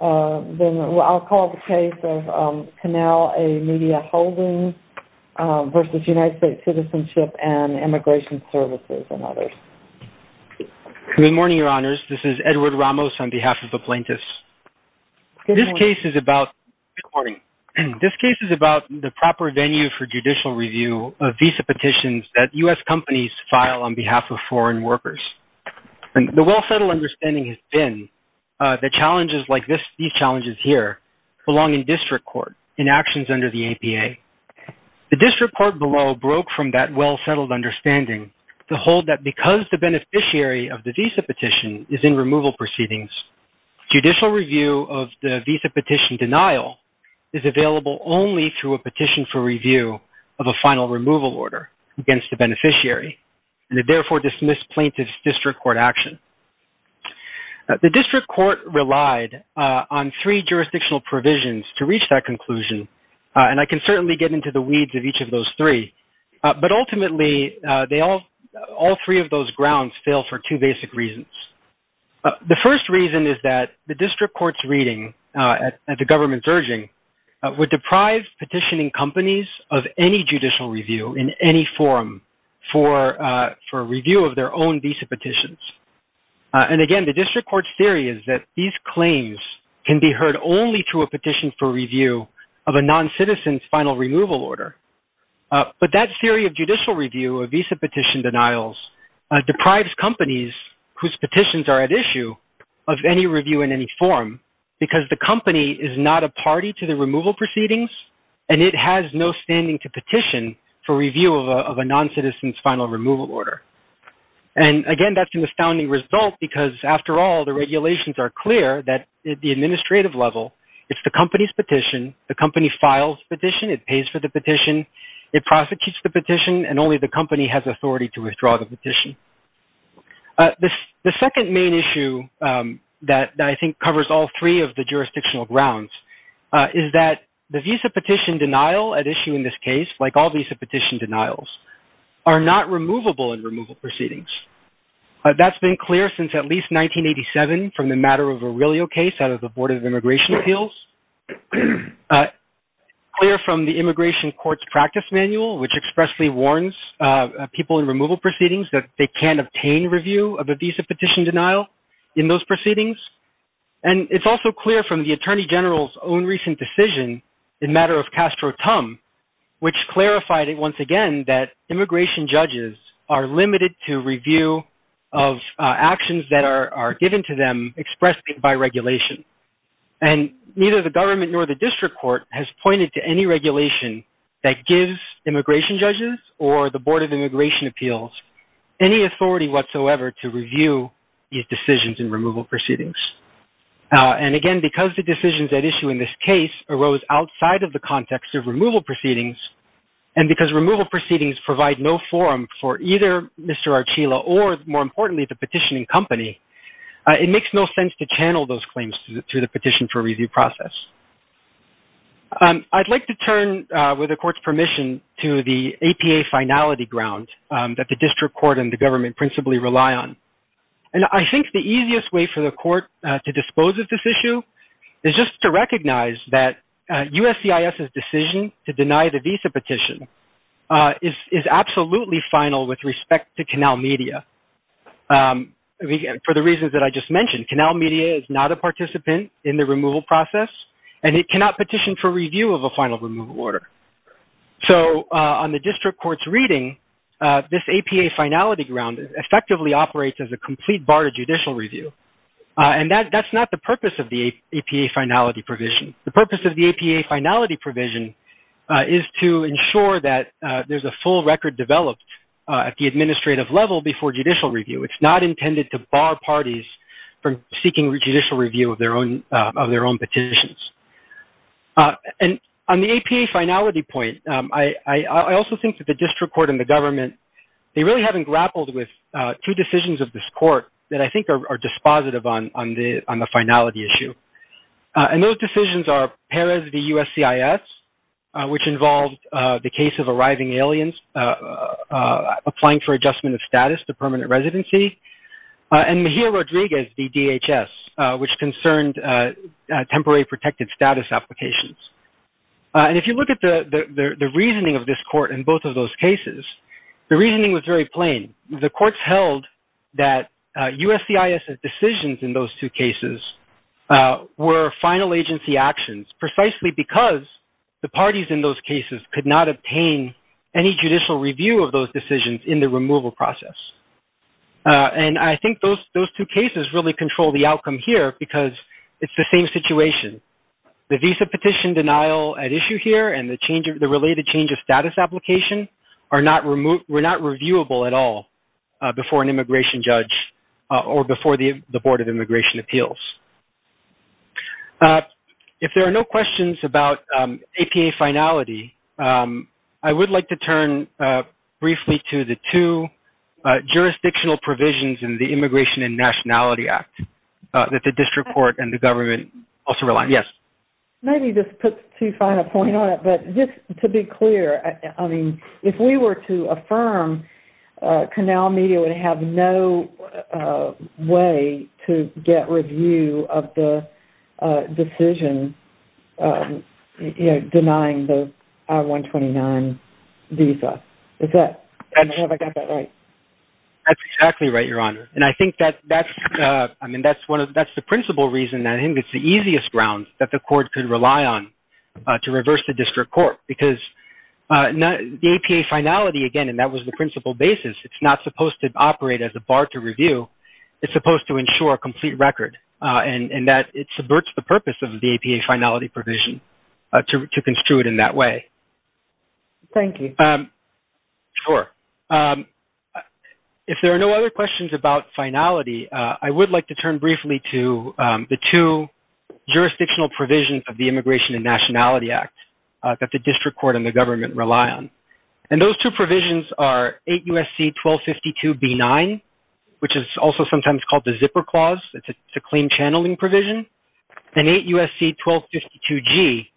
I'll call the case of Canal A. Media Holding v. United States Citizenship and Immigration Services and others. Good morning, Your Honors. This is Edward Ramos on behalf of the plaintiffs. This case is about the proper venue for judicial review of visa petitions that U.S. companies file on behalf of foreign workers. The well-settled understanding has been that challenges like these challenges here belong in district court in actions under the APA. The district court below broke from that well-settled understanding to hold that because the beneficiary of the visa petition is in removal proceedings, judicial review of the visa petition denial is available only through a petition for review of a final removal order against the beneficiary, and it therefore dismissed plaintiff's district court action. The district court relied on three jurisdictional provisions to reach that conclusion, and I can certainly get into the weeds of each of those three, but ultimately, all three of those grounds fail for two basic reasons. The first reason is that the district court's reading at the government's urging would deprive petitioning companies of any judicial review in any form for review of their own visa petitions, and again, the district court's theory is that these claims can be heard only through a petition for review of a noncitizen's final removal order, but that theory of judicial review of visa petition denials deprives companies whose petitions are at issue of any review in any form because the company is not a party to the removal proceedings, and it has no standing to petition for review of a noncitizen's final removal order, and again, that's an astounding result because after all, the regulations are clear that at the administrative level, it's the company's petition, the company files the petition, it pays for the petition, it prosecutes the petition, and only the company has authority to withdraw the petition. The second main issue that I think covers all three of the jurisdictional grounds is that the visa petition denial at issue in this case, like all visa petition denials, are not removable in removal proceedings. That's been clear since at least 1987 from the matter of a Virilio case out of the Board of Immigration Appeals, clear from the immigration court's practice manual, which expressly warns people in removal proceedings that they can't obtain review of a visa petition denial in those proceedings, and it's also clear from the Attorney General's own recent decision in matter of Castro-Tum, which clarified it once again that immigration judges are limited to review of actions that are given to them expressly by regulation, and neither the government nor the district court has pointed to any regulation that gives immigration judges or the Board of Immigration Appeals any authority whatsoever to review these decisions in removal proceedings. And again, because the decisions at issue in this case arose outside of the context of removal proceedings, and because removal proceedings provide no forum for either Mr. Archila or, more importantly, the petitioning company, it makes no sense to channel those claims through the petition for review process. I'd like to turn, with the court's permission, to the APA finality ground that the district court and the government principally rely on. And I think the easiest way for the court to dispose of this issue is just to recognize that USCIS's decision to deny the visa petition is absolutely final with respect to Canal Media, for the reasons that I just mentioned. Canal Media is not a participant in the removal process, and it cannot petition for review of a final removal order. So on the district court's reading, this APA finality ground effectively operates as a complete bar to judicial review. And that's not the purpose of the APA finality provision. The purpose of the APA finality provision is to ensure that there's a full record developed at the administrative level before judicial review. It's not intended to bar parties from seeking judicial review of their own petitions. And on the APA finality point, I also think that the district court and the government, they really haven't grappled with two decisions of this court that I think are dispositive on the finality issue. And those decisions are Perez v. USCIS, which involved the case of arriving aliens applying for adjustment of status to permanent residency, and Mejia Rodriguez v. DHS, which concerned temporary protected status applications. And if you look at the reasoning of this court in both of those cases, the reasoning was very plain. The courts held that USCIS's decisions in those two cases were final agency actions precisely because the parties in those cases could not obtain any judicial review of those decisions in the removal process. And I think those two cases really control the outcome here because it's the same situation. The visa petition denial at issue here and the related change of status application were not reviewable at all before an immigration judge or before the Board of Immigration Appeals. If there are no questions about APA finality, I would like to turn briefly to the two jurisdictional provisions in the Immigration and Nationality Act that the district court and the government also rely on. Yes. Maybe this puts too fine a point on it, but just to be clear, I mean, if we were to affirm, Canal Media would have no way to get review of the decision denying the I-129 visa. Is that? I don't know if I got that right. That's exactly right, Your Honor. And I think that's, I mean, that's one of, that's the principal reason. I think it's the easiest ground that the court could rely on to reverse the district court because the APA finality, again, and that was the principal basis. It's not supposed to operate as a bar to review. It's supposed to ensure a complete record and that it subverts the purpose of the APA finality provision to construe it in that way. Thank you. Sure. If there are no other questions about finality, I would like to turn briefly to the two jurisdictional provisions of the Immigration and Nationality Act that the district court and the government rely on. And those two provisions are 8 U.S.C. 1252 B-9, which is also sometimes called the zipper clause. It's a claim channeling provision. And 8 U.S.C. 1252 G,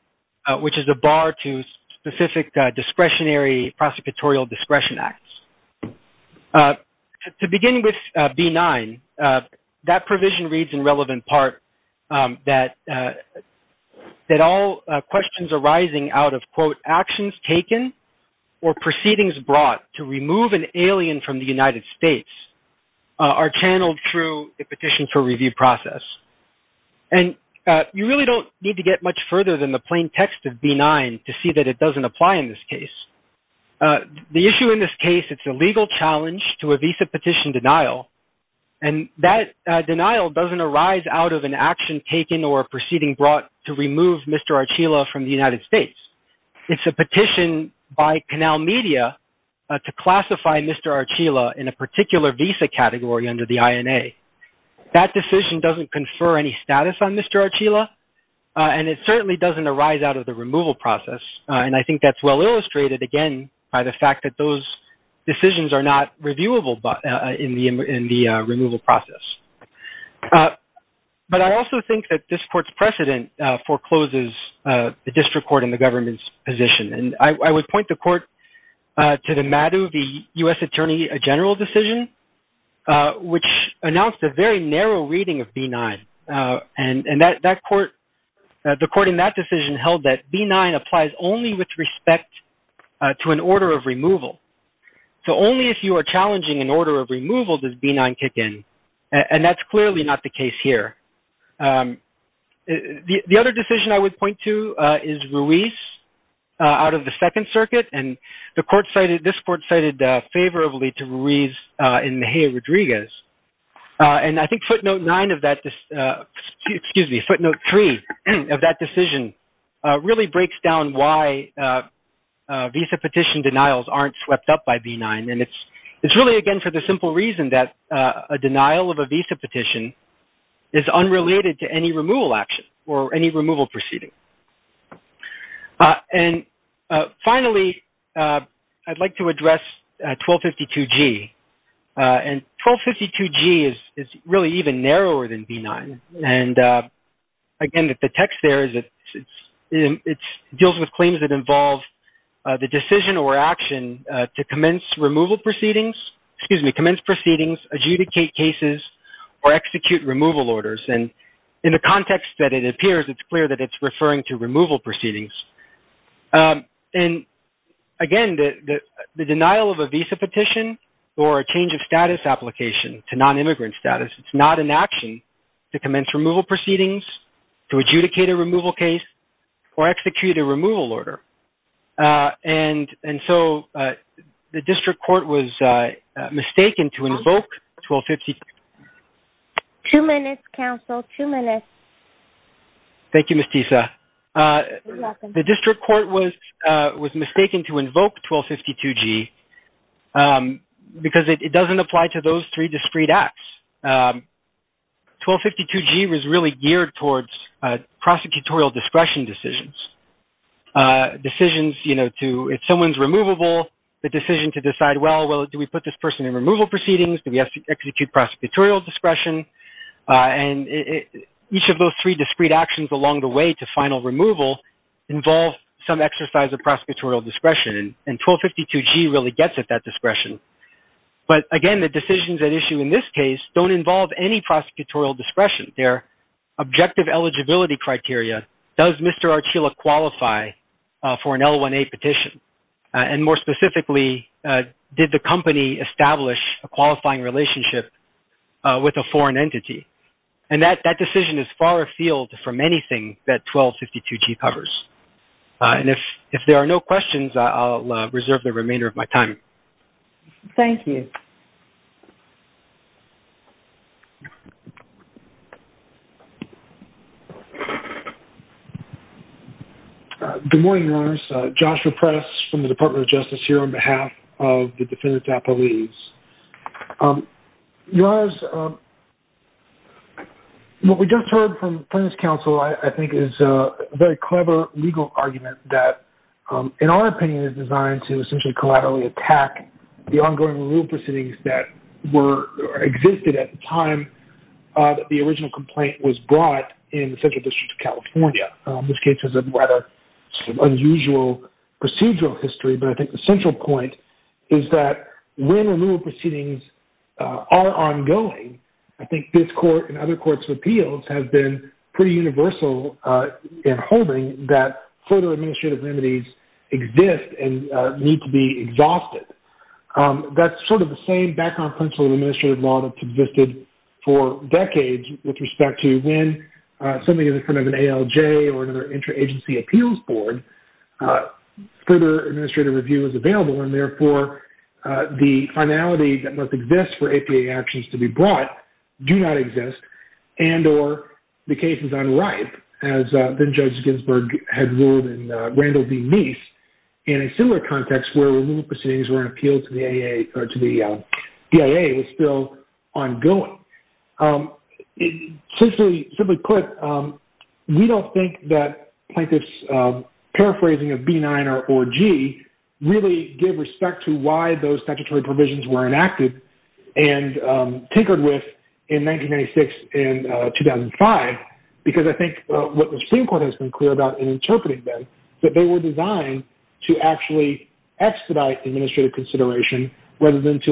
which is a bar to specific discretionary prosecutorial discretion acts. To begin with B-9, that provision reads in relevant part that all questions arising out of, quote, actions taken or proceedings brought to remove an alien from the United States are channeled through the petition for review process. And you really don't need to get much further than the plain text of B-9 to see that it doesn't apply in this case. The issue in this case, it's a legal challenge to a visa petition denial. And that denial doesn't arise out of an action taken or proceeding brought to remove Mr. Archila from the United States. It's a petition by Canal Media to classify Mr. Archila in a particular visa category under the INA. That decision doesn't confer any status on Mr. Archila. And it certainly doesn't arise out of the removal process. And I think that's well illustrated, again, by the fact that those decisions are not reviewable in the removal process. But I also think that this court's position. And I would point the court to the MADU, the U.S. Attorney General decision, which announced a very narrow reading of B-9. And the court in that decision held that B-9 applies only with respect to an order of removal. So only if you are challenging an order of removal does B-9 kick in. And that's clearly not the case here. The other decision I would point to is Ruiz out of the Second Circuit. And this court cited favorably to Ruiz and Mejia Rodriguez. And I think footnote nine of that, excuse me, footnote three of that decision really breaks down why visa petition denials aren't swept up by B-9. And it's really, again, for the simple reason that a denial of a visa petition is unrelated to any removal action or any removal proceeding. And finally, I'd like to address 1252G. And 1252G is really even narrower than B-9. And again, the text there is it deals with claims that involve the decision or action to commence removal proceedings, excuse me, commence proceedings, adjudicate cases, or execute removal orders. And in the context that it appears, it's clear that it's referring to removal proceedings. And again, the denial of a visa petition or a change of status application to non-immigrant status, it's not an action to commence removal proceedings, to adjudicate a Two minutes, counsel, two minutes. Thank you, Ms. Tisa. The district court was mistaken to invoke 1252G because it doesn't apply to those three discrete acts. 1252G was really geared towards prosecutorial discretion decisions. Decisions, you know, if someone's removable, the decision to decide, well, do we put this person in removal proceedings? Do we have to execute prosecutorial discretion? And each of those three discrete actions along the way to final removal involve some exercise of prosecutorial discretion. And 1252G really gets at that discretion. But again, the decisions at issue in this case don't involve any prosecutorial discretion. Their objective eligibility criteria, does Mr. Archila qualify for an L1A petition? And more specifically, did the company establish a qualifying relationship with a foreign entity? And that decision is far afield from anything that 1252G covers. And if there are no questions, I'll reserve the remainder of my time. Thank you. Good morning, Your Honors. Joshua Press from the Department of Justice here on behalf of the defendant's apologies. Your Honors, what we just heard from the plaintiff's counsel, I think, is a very clever legal argument that, in our opinion, is designed to essentially collaterally attack the ongoing removal proceedings that existed at the time that the original complaint was brought in the Central District of California, which gives us a rather unusual procedural history. But I think the central point is that when removal proceedings are ongoing, I think this court and other courts of appeals have been pretty universal in holding that further administrative remedies exist and need to be exhausted. That's sort of the same background principle of administrative law that's existed for decades with respect to when somebody is in front of an ALJ or another interagency appeals board, further administrative review is available. And therefore, the finality that must exist for APA actions to be brought do not exist and or the case is unripe, as Judge Ginsburg had ruled in Randall v. Meese in a similar context where removal proceedings were an appeal to the DIA was still ongoing. Simply put, we don't think that plaintiff's paraphrasing of B9 or G really gave respect to why those statutory provisions were enacted and tinkered with in 1996 and 2005, because I think what the Supreme Court has been clear about in interpreting them, that they were designed to actually expedite administrative consideration rather than to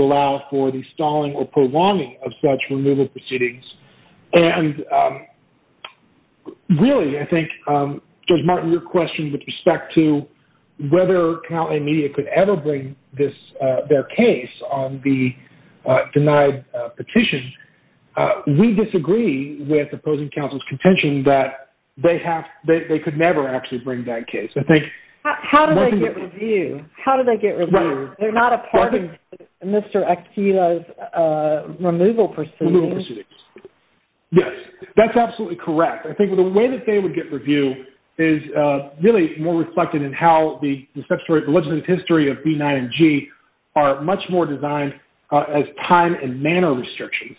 for the stalling or prolonging of such removal proceedings. And really, I think, Judge Martin, your question with respect to whether county media could ever bring their case on the denied petition, we disagree with opposing counsel's contention that they could never actually bring that case. I think... How do they get review? How do they get review? They're not a part of Mr. Akila's removal proceedings. Yes, that's absolutely correct. I think the way that they would get review is really more reflected in how the legislative history of B9 and G are much more designed as time and manner restrictions.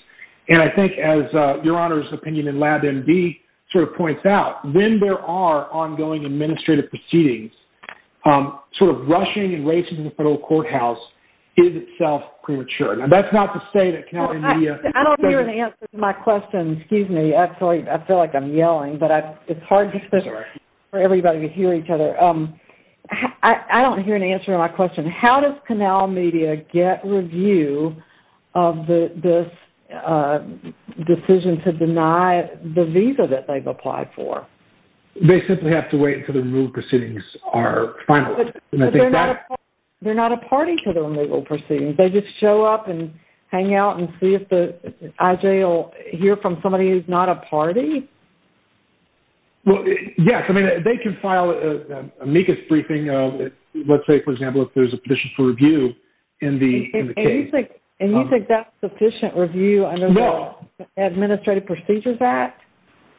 And I think as your Honor's opinion in Lab MD sort of points out, when there are ongoing administrative proceedings, sort of rushing and racing to the federal courthouse is itself premature. And that's not to say that county media... I don't hear an answer to my question. Excuse me. Actually, I feel like I'm yelling, but it's hard for everybody to hear each other. I don't hear an answer to my question. How does Canal Media get review of this decision to deny the visa that they've applied for? They simply have to wait until the proceedings are final. They're not a party to the removal proceedings. They just show up and hang out and see if the IJ will hear from somebody who's not a party? Well, yes. I mean, they can file amicus briefing. Let's say, for example, if there's a petition for review in the case. And you think that's sufficient review under the Administrative Procedures Act?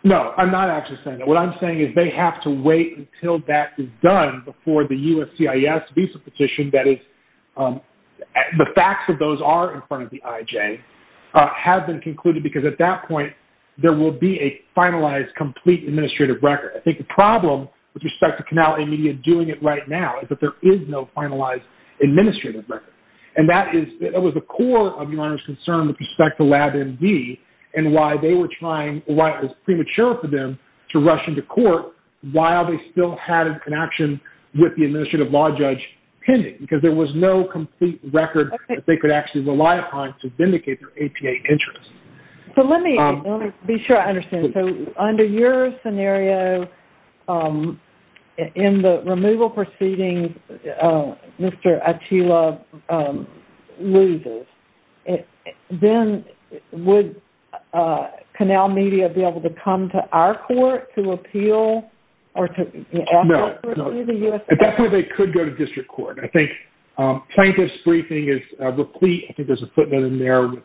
No, I'm not actually saying that. What I'm saying is they have to wait until that is done before the USCIS visa petition that is... The facts of those are in front of the IJ have been concluded because at that point, there will be a finalized, complete administrative record. I think the problem with respect to Canal Media doing it right now is that there is no finalized administrative record. And that was the core of the owner's concern with respect to LabMD and why they were trying... Why it was premature for them to rush into court while they still had a connection with the administrative law judge pending. Because there was no complete record that they could actually rely upon to vindicate their APA interests. So let me be sure I understand. So under your scenario, in the removal proceedings, Mr. Achila loses. Then would Canal Media be able to come to our court to appeal or to... No, no. That's where they could go to district court. I think plaintiff's briefing is replete. I think there's a footnote in there with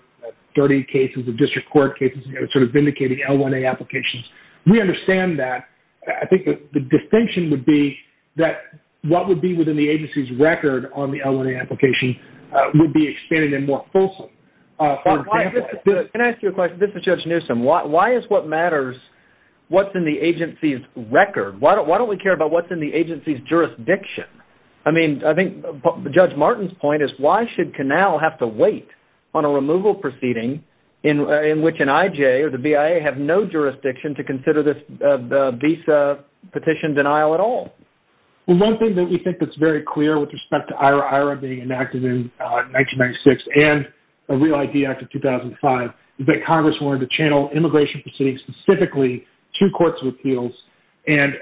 30 cases of district court cases, sort of vindicating L1A applications. We understand that. I think that the distinction would be that what would be within the agency's record on the L1A application would be expanded and more fulsome. Can I ask you a question? This is Judge Newsom. Why is what matters what's in the agency's record? Why don't we care about what's in the agency's jurisdiction? I mean, I think Judge Martin's point is why should Canal have to wait on a removal proceeding in which an IJ or the BIA have no jurisdiction to consider this petition denial at all? Well, one thing that we think that's very clear with respect to IRA being enacted in 1996 and the Real ID Act of 2005 is that Congress wanted to channel immigration proceedings specifically to courts of appeals and...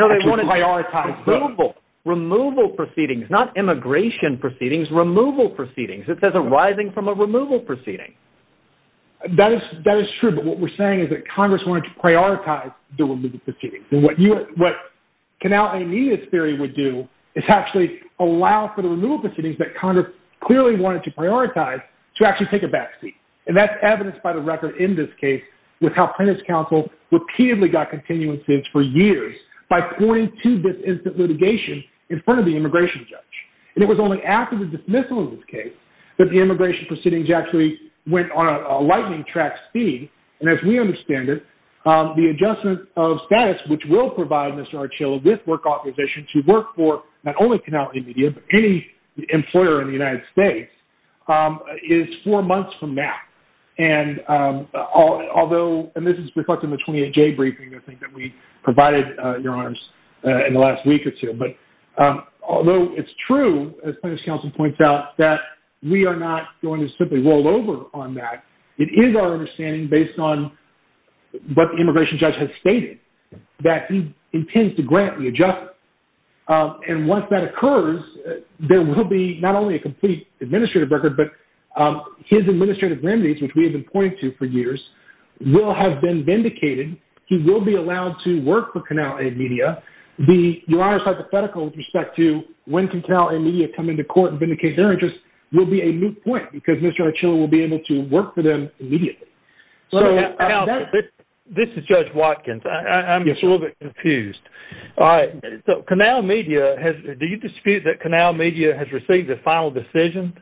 So they want to prioritize removal proceedings, not immigration proceedings, removal proceedings. It says arising from a removal proceeding. That is true. But what we're saying is that Congress wanted to prioritize the removal proceedings. And what Canal A&E's theory would do is actually allow for the removal proceedings that Congress clearly wanted to prioritize to actually take a back seat. And that's evidenced by the record in this case with how plaintiff's counsel repeatedly got continuances for years by pointing to this instant litigation in front of the immigration judge. And it was only after the dismissal of this case that the immigration proceedings actually went on a status which will provide Mr. Archill with work authorization to work for not only Canal A&E, but any employer in the United States, is four months from now. And although... And this is reflected in the 28-J briefing, I think, that we provided, Your Honors, in the last week or two. But although it's true, as plaintiff's counsel points out, that we are not going to simply roll on that, it is our understanding based on what the immigration judge has stated, that he intends to grant the adjustment. And once that occurs, there will be not only a complete administrative record, but his administrative remedies, which we have been pointing to for years, will have been vindicated. He will be allowed to work for Canal A&E Media. The Your Honor's hypothetical with respect to when can Canal A&E Media come into court and be able to work for them immediately. This is Judge Watkins. I'm a little bit confused. All right. So Canal Media has... Do you dispute that Canal Media has received the final decision?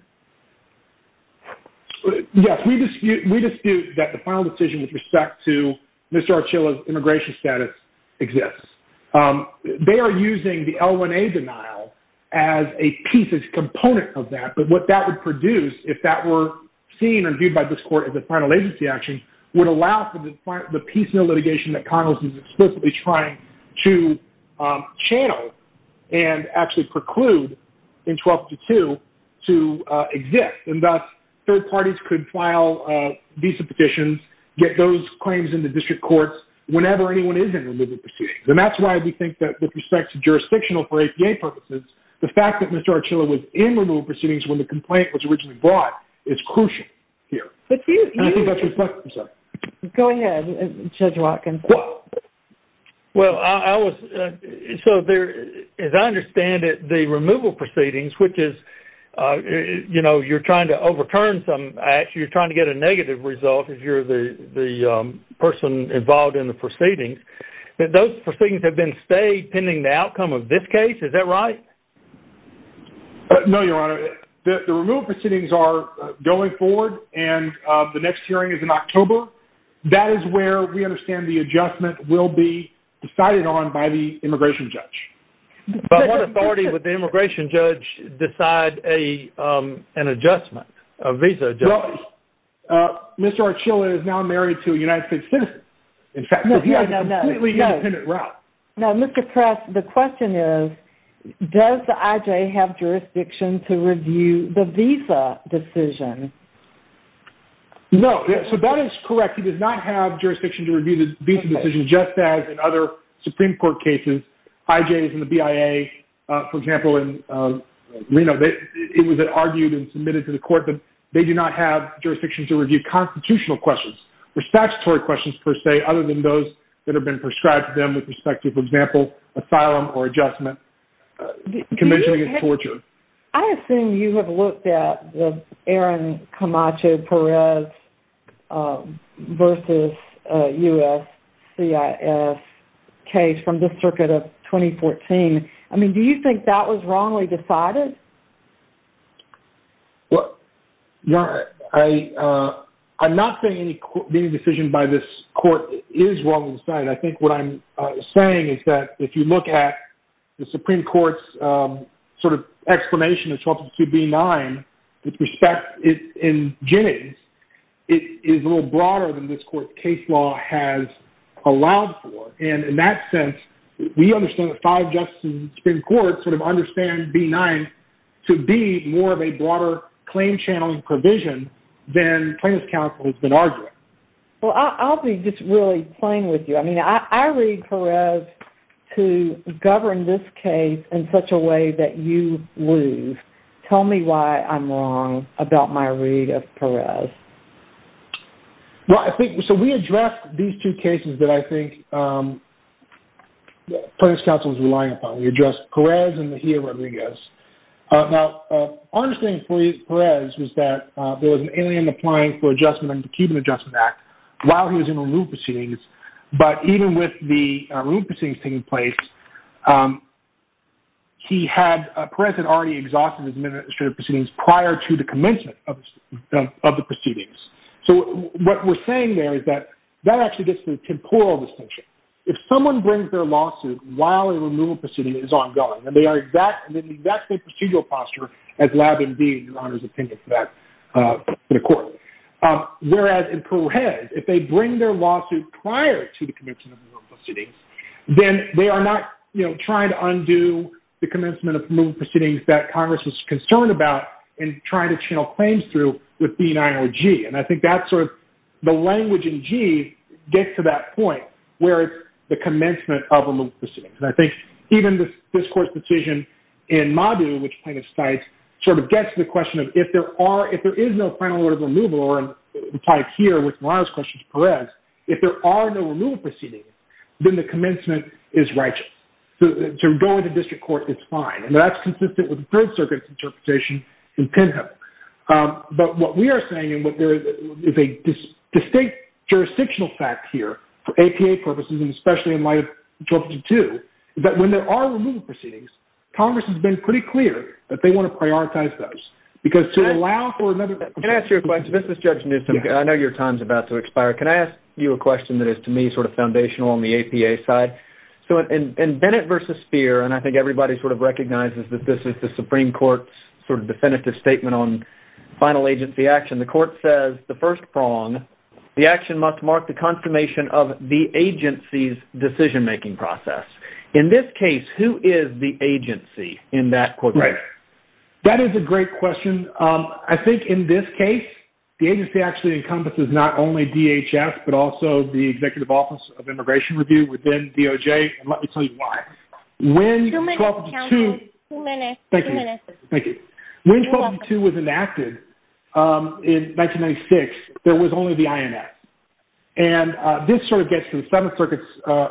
Yes, we dispute that the final decision with respect to Mr. Archill's immigration status exists. They are using the L1A denial as a piece, as a component of that. But what that would produce if that were seen and viewed by this court as a final agency action would allow for the piecemeal litigation that Congress is explicitly trying to channel and actually preclude in 12-2 to exist. And thus, third parties could file visa petitions, get those claims in the district courts whenever anyone is in removal proceedings. And that's why we think that with respect to jurisdictional for APA purposes, the fact that Mr. Archill was in removal proceedings when the is crucial here. Go ahead, Judge Watkins. Well, I was... So as I understand it, the removal proceedings, which is, you know, you're trying to overturn some... Actually, you're trying to get a negative result if you're the person involved in the proceedings. Those proceedings have been stayed pending the outcome of this case. Is that right? No, Your Honor. The removal proceedings are going forward and the next hearing is in October. That is where we understand the adjustment will be decided on by the immigration judge. But what authority would the immigration judge decide an adjustment, a visa adjustment? Well, Mr. Archill is now married to a United States citizen. In fact, he has a completely independent route. Now, Mr. Press, the question is, does the IJ have jurisdiction to review the visa decision? No. So that is correct. He does not have jurisdiction to review the visa decision, just as in other Supreme Court cases, IJs and the BIA, for example, and, you know, it was argued and submitted to the court that they do not have jurisdiction to review constitutional questions or statutory questions per se, other than those that have been prescribed them with respect to, for example, asylum or adjustment, convention against torture. I assume you have looked at the Aaron Camacho Perez versus USCIS case from the circuit of 2014. I mean, do you think that was wrongly decided? Well, no, I'm not saying any decision by this court is wrongly decided. I think what I'm saying is that if you look at the Supreme Court's sort of explanation of 1222b-9 with respect in Jennings, it is a little broader than this court's case law has allowed for. And in that sense, we understand that five justices in the Supreme Court sort of understand b-9 to be more of a broader claim channeling provision than plaintiff's counsel has been arguing. Well, I'll be just really plain with you. I mean, I read Perez to govern this case in such a way that you lose. Tell me why I'm wrong about my read of Perez. Well, I think, so we addressed these two cases that I think plaintiff's counsel was relying on. We addressed Perez and Mejia Rodriguez. Now, our understanding for Perez was that there was an alien applying for adjustment under the Cuban Adjustment Act while he was in removal proceedings. But even with the removal proceedings taking place, he had, Perez had already exhausted his administrative proceedings prior to the commencement of the proceedings. So what we're saying there is that that actually gets to the distinction. If someone brings their lawsuit while a removal proceeding is ongoing, and they are in the exact same procedural posture as Lab and D, in your Honor's opinion, for that court. Whereas in Perez, if they bring their lawsuit prior to the commencement of the proceedings, then they are not trying to undo the commencement of removal proceedings that Congress was concerned about in trying to channel claims through with b-9 or G. And I think that's sort of, the language in G gets to that point where it's the commencement of removal proceedings. And I think even this court's decision in Madu, which plaintiff cites, sort of gets to the question of if there are, if there is no final order of removal, or implied here with Milano's question to Perez, if there are no removal proceedings, then the commencement is righteous. So to go into district court is fine. And that's consistent with the Third Circuit's interpretation in Pinho. But what we are saying, and what there is a distinct jurisdictional fact here for APA purposes, and especially in light of 1252, is that when there are removal proceedings, Congress has been pretty clear that they want to prioritize those. Because to allow for another- Can I ask you a question? This is Judge Newsom. I know your time's about to expire. Can I ask you a question that is, to me, sort of foundational on the APA side? So in Bennett versus Speer, and I think everybody sort of recognizes that this is the Supreme Court's sort of definitive statement on final agency action, the court says, the first prong, the action must mark the consummation of the agency's decision-making process. In this case, who is the agency in that courtroom? That is a great question. I think in this case, the agency actually encompasses not only DHS, but also the Executive Office of Immigration Review within DOJ. And let me tell you why. When 1252 was enacted in 1996, there was only the INS. And this sort of gets to the Seventh Circuit's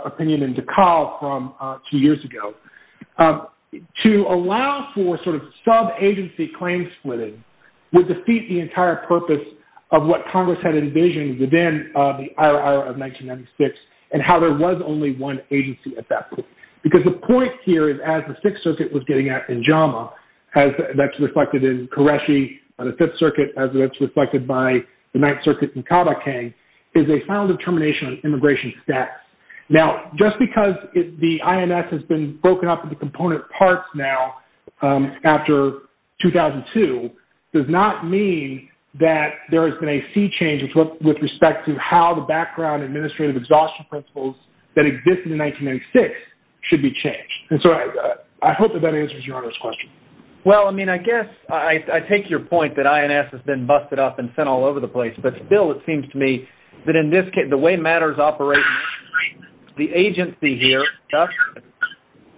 opinion in DeKalb from two years ago. To allow for sort of sub-agency claim splitting would defeat the entire purpose of what Congress had envisioned within the IRA of 1996, and how there was only one agency at that point. Because the point here is, as the Sixth Circuit was getting at in JAMA, as that's reflected in Qureshi on the Fifth Circuit, as it's reflected by the Ninth Circuit in Caldecang, is a final determination on immigration status. Now, just because the INS has been broken up into component parts now, after 2002, does not mean that there has been a sea change with respect to how the background administrative exhaustion principles that existed in 1996 should be changed. And so I hope that that answers your Honor's question. Well, I mean, I guess I take your point that INS has been busted up and sent all over the place. But still, it seems to me that in this case, the way matters operate, the agency here, USCIS,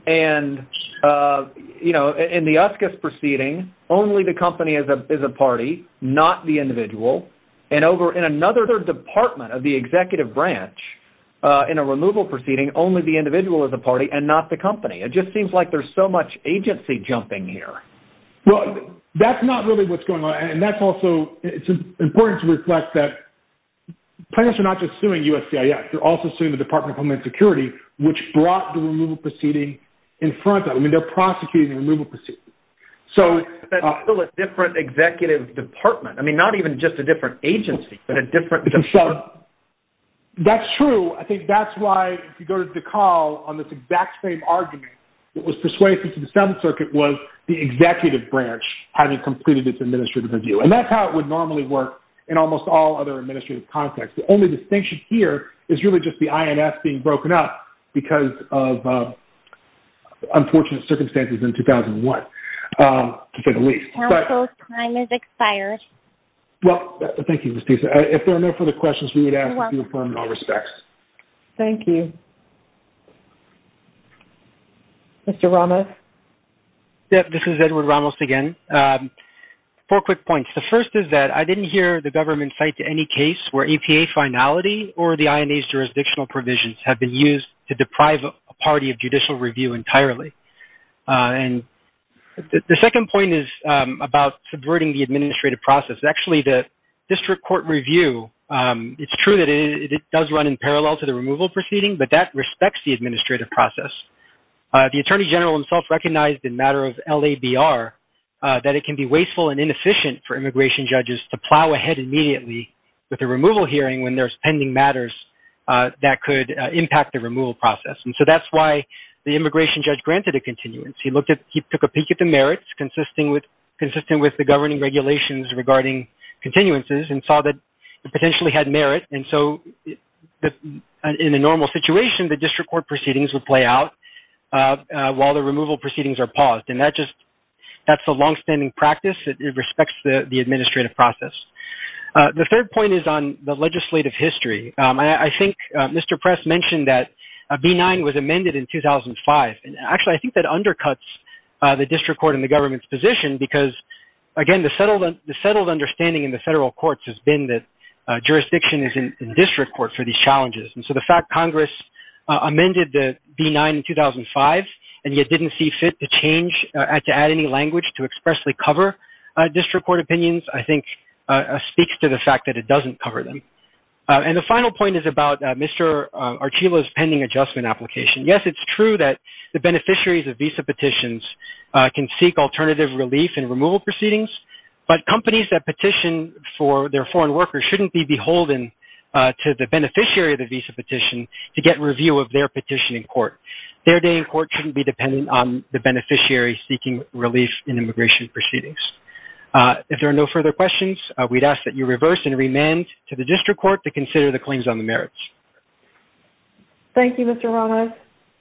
and, you know, in the USCIS proceeding, only the company is a party, not the individual. And over in another department of the executive branch, in a removal proceeding, only the individual is a party and not the company. It just seems like there's so much agency jumping here. Well, that's not really what's going on. And that's also, it's important to reflect that plaintiffs are not just suing USCIS, they're also suing the Department of Homeland Security, which brought the removal proceeding in front of them. I mean, they're prosecuting the removal proceedings. So... That's still a different executive department. I mean, not even just a different agency, but a different department. That's true. I think that's why, if you go to DeKalb, on this exact same argument, what was persuasive to the Seventh Circuit was the executive branch having completed its administrative review. And that's how it would normally work in almost all other administrative contexts. The only distinction here is really just the INF being broken up because of unfortunate circumstances in 2001, to say the least. Counsel, time has expired. Well, thank you, Ms. Disa. If there are no further questions, we would ask you to confirm in all respects. Thank you. Mr. Ramos? This is Edward Ramos again. Four quick points. The first is that I didn't hear the government cite to any case where EPA finality or the INA's jurisdictional provisions have been used to deprive a party of judicial review entirely. And the second point is about subverting the administrative process. Actually, the district court review, it's true that it does run in parallel to the removal proceeding, but that respects the administrative process. The Attorney General himself recognized in matter of LABR that it can be wasteful and inefficient for immigration judges to plow ahead immediately with a removal hearing when there's pending matters that could impact the removal process. And so that's why the immigration judge granted a continuance. He took a peek at the merits consistent with the governing regulations regarding continuances and saw that it potentially had merit. And so in a normal situation, the district court proceedings would play out while the removal proceedings are paused. And that's a longstanding practice. It respects the administrative process. The third point is on the legislative history. I think Mr. Press mentioned that B-9 was amended in 2005. And actually, I think that undercuts the district court and the government's position because, again, the settled understanding in the federal courts has been that jurisdiction is in district court for these challenges. And so the fact Congress amended the B-9 in 2005 and yet didn't see fit to change, to add any language to expressly cover district court opinions, I think, speaks to the fact that it doesn't cover them. And the final point is about Mr. Archila's pending adjustment application. Yes, it's true that the beneficiaries of visa petitions can seek alternative relief in removal proceedings, but companies that petition for their foreign workers shouldn't be beholden to the beneficiary of the visa petition to get review of their petition in court. Their day in court shouldn't be dependent on the beneficiary seeking relief in immigration proceedings. If there are no further questions, we'd ask that you reverse and remand to the district court to consider the claims on the merits. Thank you, Mr. Ramos.